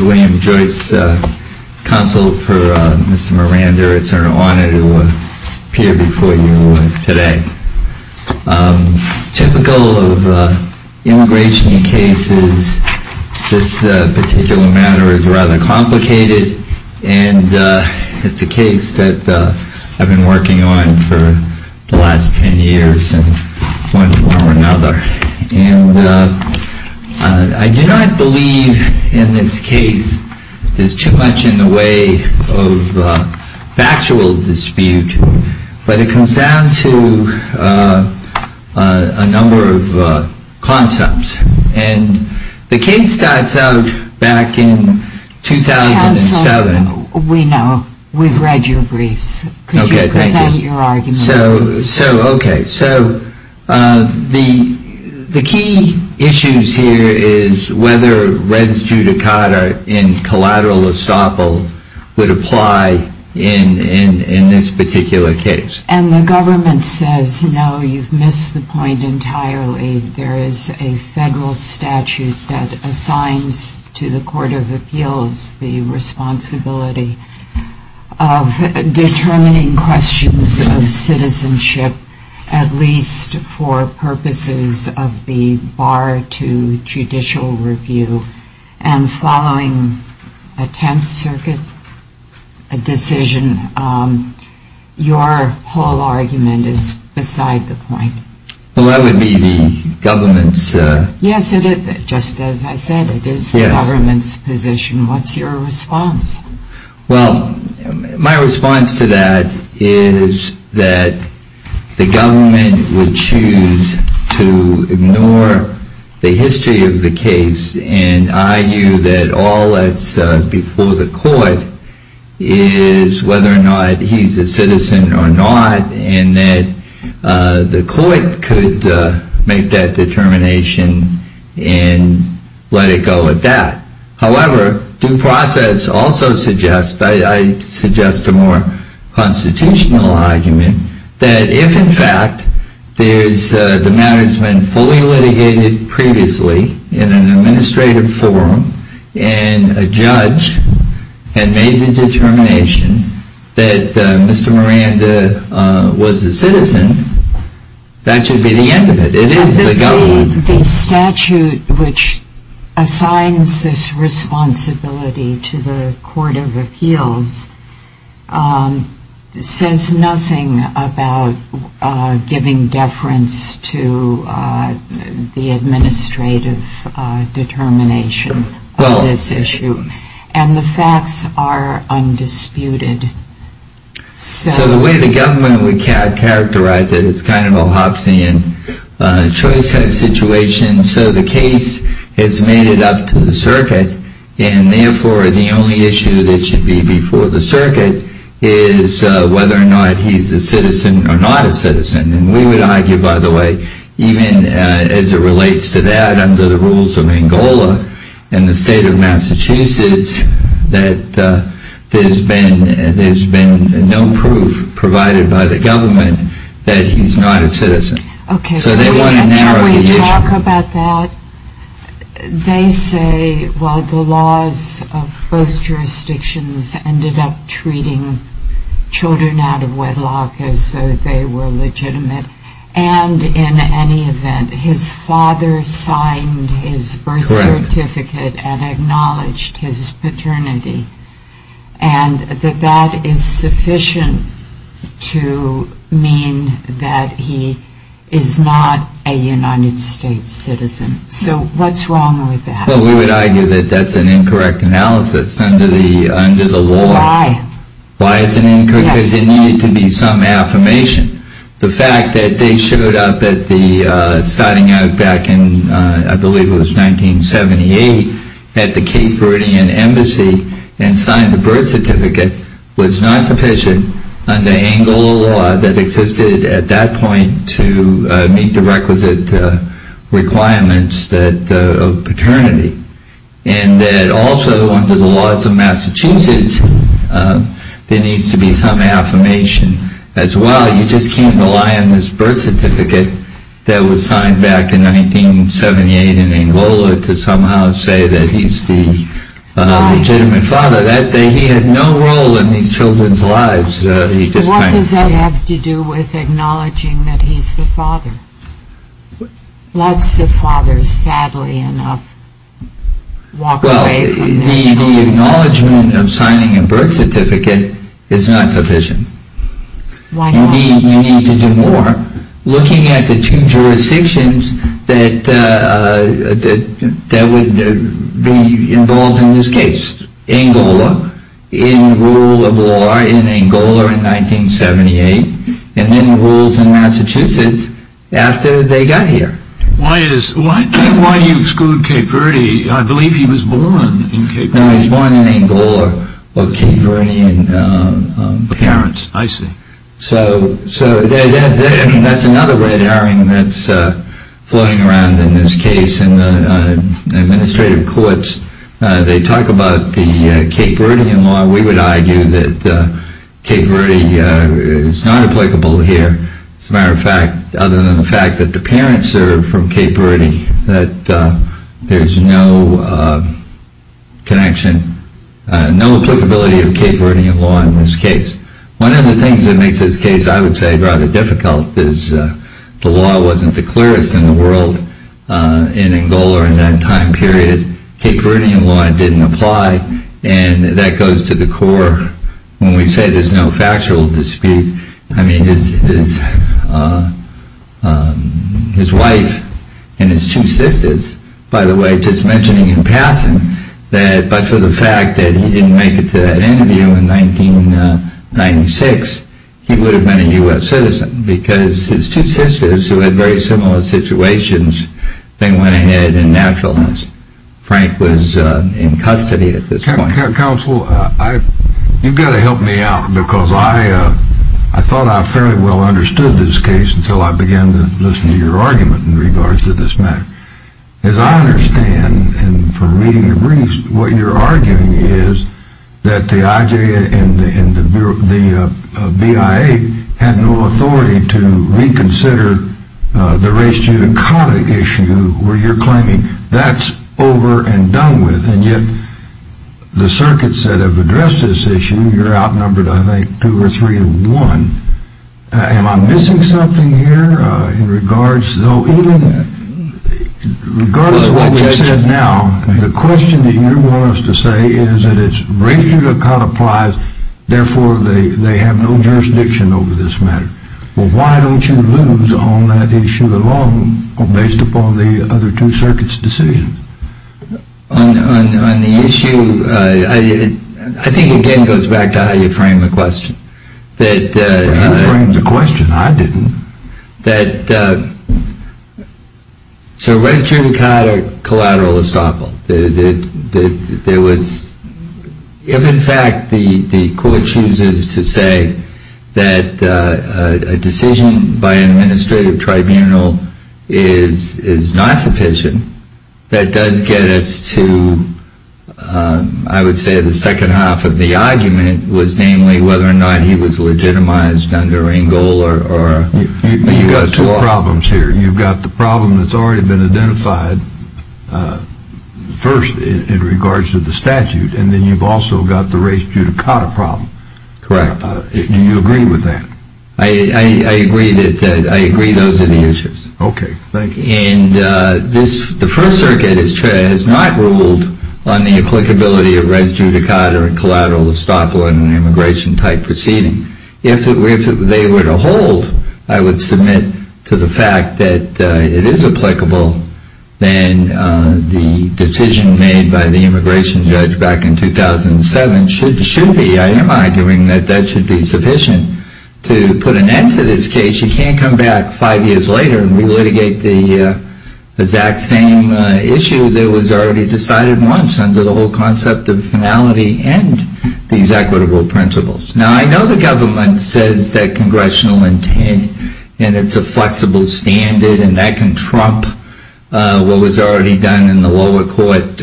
William Joyce, Counsel for Mr. Morander It's an honor to appear before you today. Typical of immigration cases, this particular matter is rather complicated, and it's a case that I've been working on for the last ten years in one form or another. And I do not believe in this case there's too much in the way of factual dispute, but it comes down to a number of concepts. And the case starts out back in 2007. Counsel, we know. We've read your briefs. Could you present your argument, please? So, okay. So the key issues here is whether res judicata in collateral estoppel would apply in this particular case. And the government says, no, you've missed the point entirely. There is a federal statute that assigns to the Court of Appeals the responsibility of determining questions of citizenship, at least for purposes of the bar to judicial review. And following a Tenth Circuit decision, your whole argument is beside the point. Well, that would be the government's... Yes, just as I said, it is the government's position. What's your response? Well, my response to that is that the government would choose to ignore the history of the case and argue that all that's before the court is whether or not he's a citizen or not, and that the court could make that determination and let it go at that. However, due process also suggests, I suggest a more constitutional argument, that if, in fact, the matter's been fully litigated previously in an administrative forum, and a judge had made the determination that Mr. Miranda was a citizen, that should be the end of it. It is the government. But the statute which assigns this responsibility to the Court of Appeals says nothing about giving deference to the administrative determination of this issue. And the facts are undisputed. So the way the government would characterize it is kind of a Hobbesian choice type situation. So the case has made it up to the circuit, and therefore the only issue that should be before the circuit is whether or not he's a citizen or not a citizen. And we would argue, by the way, even as it relates to that under the rules of Angola and the state of Massachusetts, that there's been no proof provided by the government that he's not a citizen. Can we talk about that? They say, well, the laws of both jurisdictions ended up treating children out of wedlock as though they were legitimate. And in any event, his father signed his birth certificate and acknowledged his paternity. And that that is sufficient to mean that he is not a United States citizen. So what's wrong with that? Well, we would argue that that's an incorrect analysis under the law. Why? Why is it incorrect? Because it needed to be some affirmation. The fact that they showed up at the, starting out back in, I believe it was 1978, at the Cape Verdean Embassy and signed the birth certificate was not sufficient under Angola law that existed at that point to meet the requisite requirements of paternity. And that also under the laws of Massachusetts, there needs to be some affirmation as well. You just can't rely on this birth certificate that was signed back in 1978 in Angola to somehow say that he's the legitimate father. He had no role in these children's lives. What does that have to do with acknowledging that he's the father? Lots of fathers, sadly enough, walk away from this. Well, the acknowledgement of signing a birth certificate is not sufficient. Why not? You need to do more. Looking at the two jurisdictions that would be involved in this case, Angola, in rule of law in Angola in 1978, and then rules in Massachusetts after they got here. Why do you exclude Cape Verde? I believe he was born in Cape Verde. No, he was born in Angola with Cape Verdean parents. I see. So that's another red herring that's floating around in this case. In the administrative courts, they talk about the Cape Verdean law. We would argue that Cape Verde is not applicable here. As a matter of fact, other than the fact that the parents are from Cape Verde, that there's no connection, no applicability of Cape Verdean law in this case. One of the things that makes this case, I would say, rather difficult is the law wasn't the clearest in the world in Angola in that time period. Cape Verdean law didn't apply, and that goes to the core. When we say there's no factual dispute, I mean his wife and his two sisters, by the way, just mentioning in passing, but for the fact that he didn't make it to that interview in 1996, he would have been a U.S. citizen because his two sisters who had very similar situations, they went ahead and naturalized. Frank was in custody at this point. Counsel, you've got to help me out because I thought I fairly well understood this case until I began to listen to your argument in regards to this matter. As I understand, and from reading your briefs, what you're arguing is that the IJ and the BIA had no authority to reconsider the race judicata issue where you're claiming that's over and done with, and yet the circuits that have addressed this issue, you're outnumbered, I think, two or three to one. Am I missing something here in regards? Regardless of what you said now, the question that you want us to say is that it's race judicata applies, therefore they have no jurisdiction over this matter. Well, why don't you lose on that issue alone based upon the other two circuits' decisions? On the issue, I think, again, it goes back to how you framed the question. You framed the question. I didn't. So race judicata collateral is toppled. If in fact the court chooses to say that a decision by an administrative tribunal is not sufficient, that does get us to, I would say, the second half of the argument, was namely whether or not he was legitimized under Rangel. You've got two problems here. You've got the problem that's already been identified first in regards to the statute, and then you've also got the race judicata problem. Correct. Do you agree with that? I agree that those are the issues. Okay. Thank you. And the first circuit has not ruled on the applicability of race judicata and collateral to stop an immigration-type proceeding. If they were to hold, I would submit to the fact that it is applicable, then the decision made by the immigration judge back in 2007 should be, I am arguing that that should be sufficient to put an end to this case. She can't come back five years later and re-litigate the exact same issue that was already decided once under the whole concept of finality and these equitable principles. Now, I know the government says that congressional intent and it's a flexible standard and that can trump what was already done in the lower court.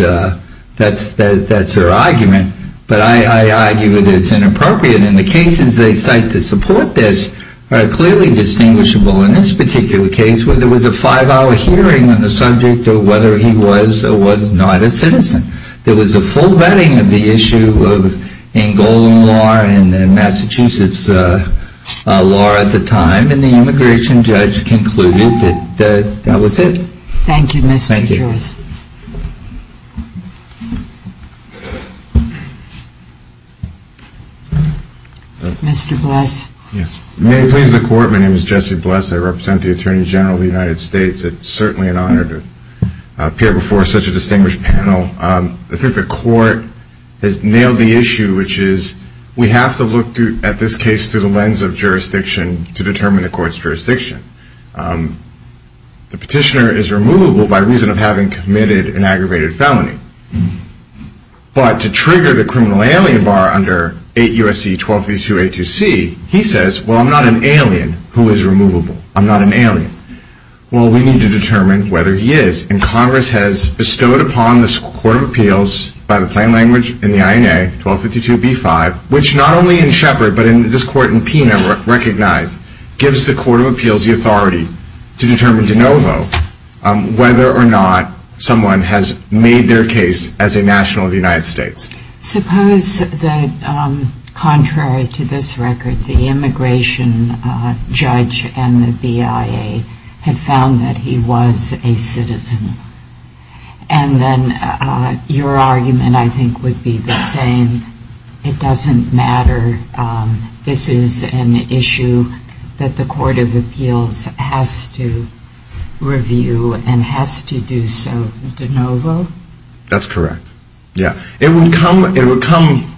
That's her argument. But I argue that it's inappropriate, and the cases they cite to support this are clearly distinguishable. In this particular case, there was a five-hour hearing on the subject of whether he was or was not a citizen. There was a full vetting of the issue in Golden Law and Massachusetts law at the time, and the immigration judge concluded that that was it. Thank you, Mr. Joyce. Thank you. Mr. Bless. May it please the court, my name is Jesse Bless. I represent the Attorney General of the United States. It's certainly an honor to appear before such a distinguished panel. I think the court has nailed the issue, which is we have to look at this case through the lens of jurisdiction to determine the court's jurisdiction. The petitioner is removable by reason of having committed an aggravated felony. But to trigger the criminal alien bar under 8 U.S.C. 1252A2C, he says, well, I'm not an alien who is removable. I'm not an alien. Well, we need to determine whether he is, and Congress has bestowed upon this Court of Appeals by the plain language in the INA, 1252B5, which not only in Shepard but in this court in Pena recognize, gives the Court of Appeals the authority to determine de novo whether or not someone has made their case as a national of the United States. Suppose that, contrary to this record, the immigration judge and the BIA had found that he was a citizen. And then your argument, I think, would be the same. It doesn't matter. This is an issue that the Court of Appeals has to review and has to do so de novo? That's correct. Yeah. It would come.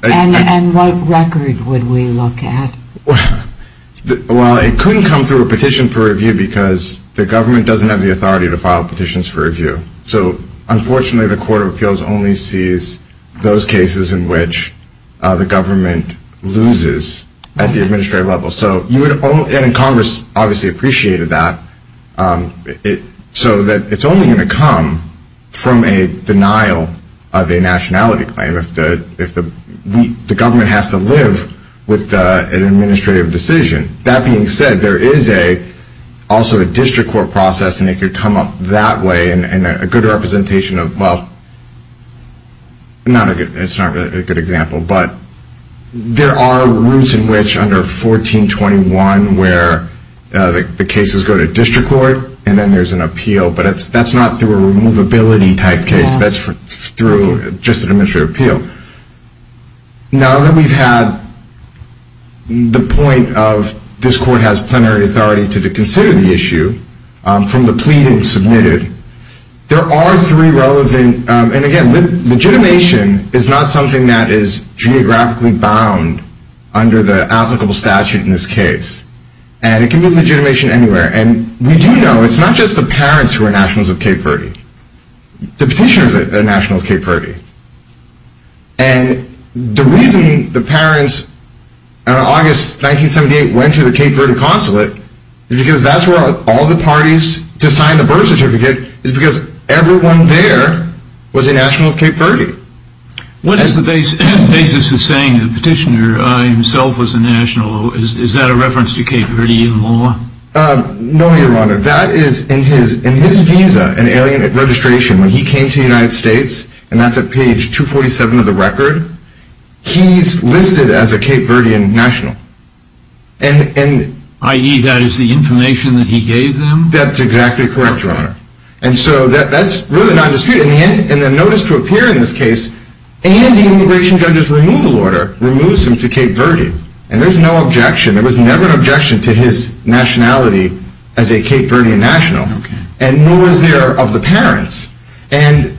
And what record would we look at? Well, it couldn't come through a petition for review because the government doesn't have the authority to file petitions for review. So, unfortunately, the Court of Appeals only sees those cases in which the government loses at the administrative level. And Congress obviously appreciated that. So it's only going to come from a denial of a nationality claim if the government has to live with an administrative decision. That being said, there is also a district court process, and it could come up that way and a good representation of, well, it's not a good example, but there are routes in which under 1421 where the cases go to district court and then there's an appeal, but that's not through a removability type case. That's through just an administrative appeal. Now that we've had the point of this court has plenary authority to consider the issue from the pleading submitted, there are three relevant, and again, legitimation is not something that is geographically bound under the applicable statute in this case. And it can be legitimation anywhere. And we do know it's not just the parents who are nationals of Cape Verde. The petitioners are nationals of Cape Verde. And the reason the parents in August 1978 went to the Cape Verde consulate is because that's where all the parties to sign the birth certificate is because everyone there was a national of Cape Verde. What is the basis of saying the petitioner himself was a national? Is that a reference to Cape Verde in law? No, Your Honor. That is in his visa and alien registration when he came to the United States, and that's at page 247 of the record, he's listed as a Cape Verdean national. I.e., that is the information that he gave them? That's exactly correct, Your Honor. And so that's really not disputed. In the notice to appear in this case, and the immigration judge's removal order removes him to Cape Verde. And there's no objection. There was never an objection to his nationality as a Cape Verdean national. And nor was there of the parents. And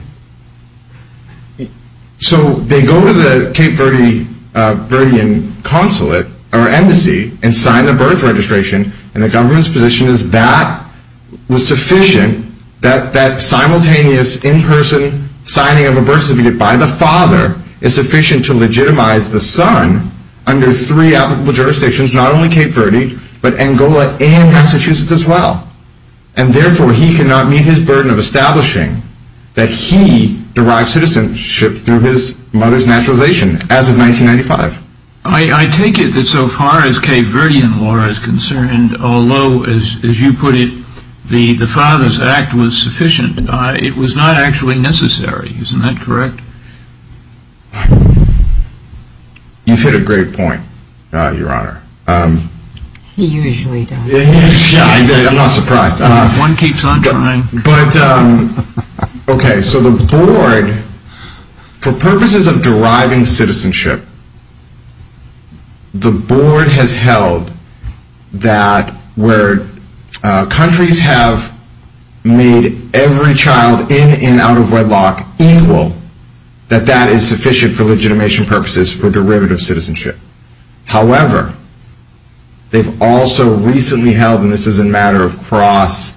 so they go to the Cape Verdean consulate or embassy and sign the birth registration, and the government's position is that was sufficient, that that simultaneous in-person signing of a birth certificate by the father is sufficient to legitimize the son under three applicable jurisdictions, not only Cape Verde, but Angola and Massachusetts as well. And therefore, he cannot meet his burden of establishing that he derived citizenship through his mother's naturalization as of 1995. I take it that so far as Cape Verdean law is concerned, although, as you put it, the father's act was sufficient, it was not actually necessary. Isn't that correct? You've hit a great point, Your Honor. He usually does. I'm not surprised. One keeps on trying. Okay, so the board, for purposes of deriving citizenship, the board has held that where countries have made every child in and out of wedlock equal, that that is sufficient for legitimation purposes for derivative citizenship. However, they've also recently held, and this is a matter of cross,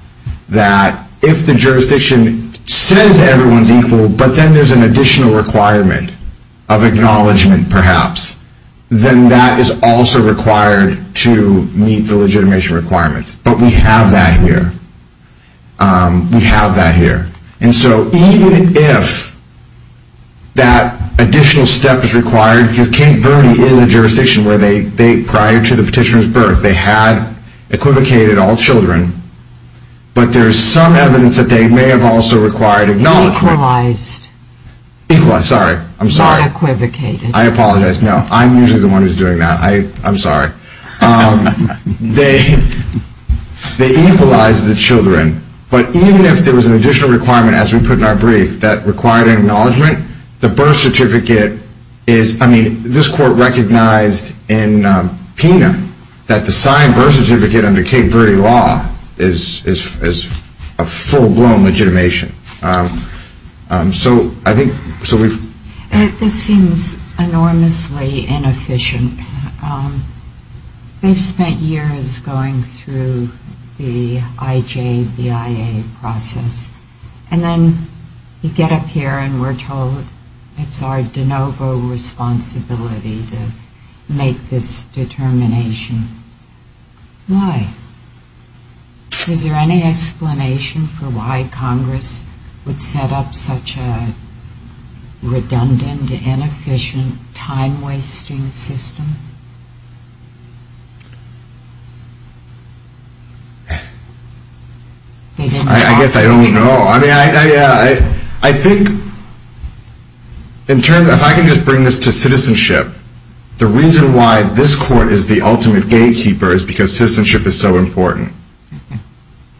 that if the jurisdiction says everyone's equal, but then there's an additional requirement of acknowledgement, perhaps, then that is also required to meet the legitimation requirements. But we have that here. We have that here. And so even if that additional step is required, because Cape Verde is a jurisdiction where prior to the petitioner's birth they had equivocated all children, but there's some evidence that they may have also required acknowledgement. Equalized. Equalized, sorry. Not equivocated. I'm sorry. I apologize. No, I'm usually the one who's doing that. I'm sorry. They equalized the children, but even if there was an additional requirement, as we put in our brief, that required acknowledgement, the birth certificate is, I mean, this court recognized in PINA that the signed birth certificate under Cape Verde law is a full-blown legitimation. So I think, so we've. This seems enormously inefficient. We've spent years going through the IJBIA process, and then you get up here and we're told it's our de novo responsibility to make this determination. Why? Is there any explanation for why Congress would set up such a redundant, inefficient, time-wasting system? I guess I don't know. I mean, I think in terms of, if I can just bring this to citizenship, the reason why this court is the ultimate gatekeeper is because citizenship is so important.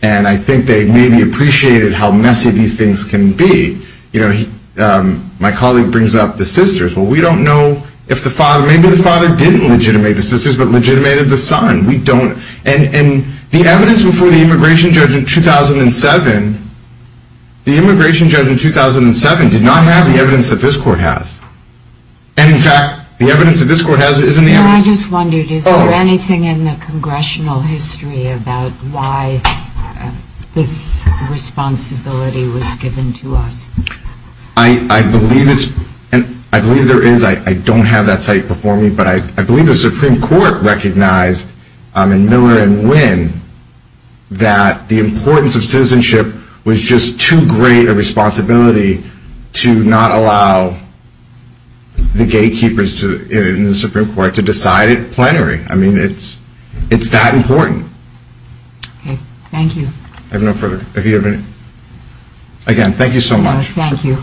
And I think they maybe appreciated how messy these things can be. You know, my colleague brings up the sisters. Well, we don't know if the father, maybe the father didn't legitimate the sisters but legitimated the son. We don't. And the evidence before the immigration judge in 2007, the immigration judge in 2007 did not have the evidence that this court has. And, in fact, the evidence that this court has isn't the evidence. I just wondered, is there anything in the congressional history about why this responsibility was given to us? I believe there is. I don't have that site before me. But I believe the Supreme Court recognized in Miller and Winn that the importance of citizenship was just too great a responsibility to not allow the gatekeepers in the Supreme Court to decide it plenary. I mean, it's that important. Okay. Thank you. I have no further. Again, thank you so much. Thank you.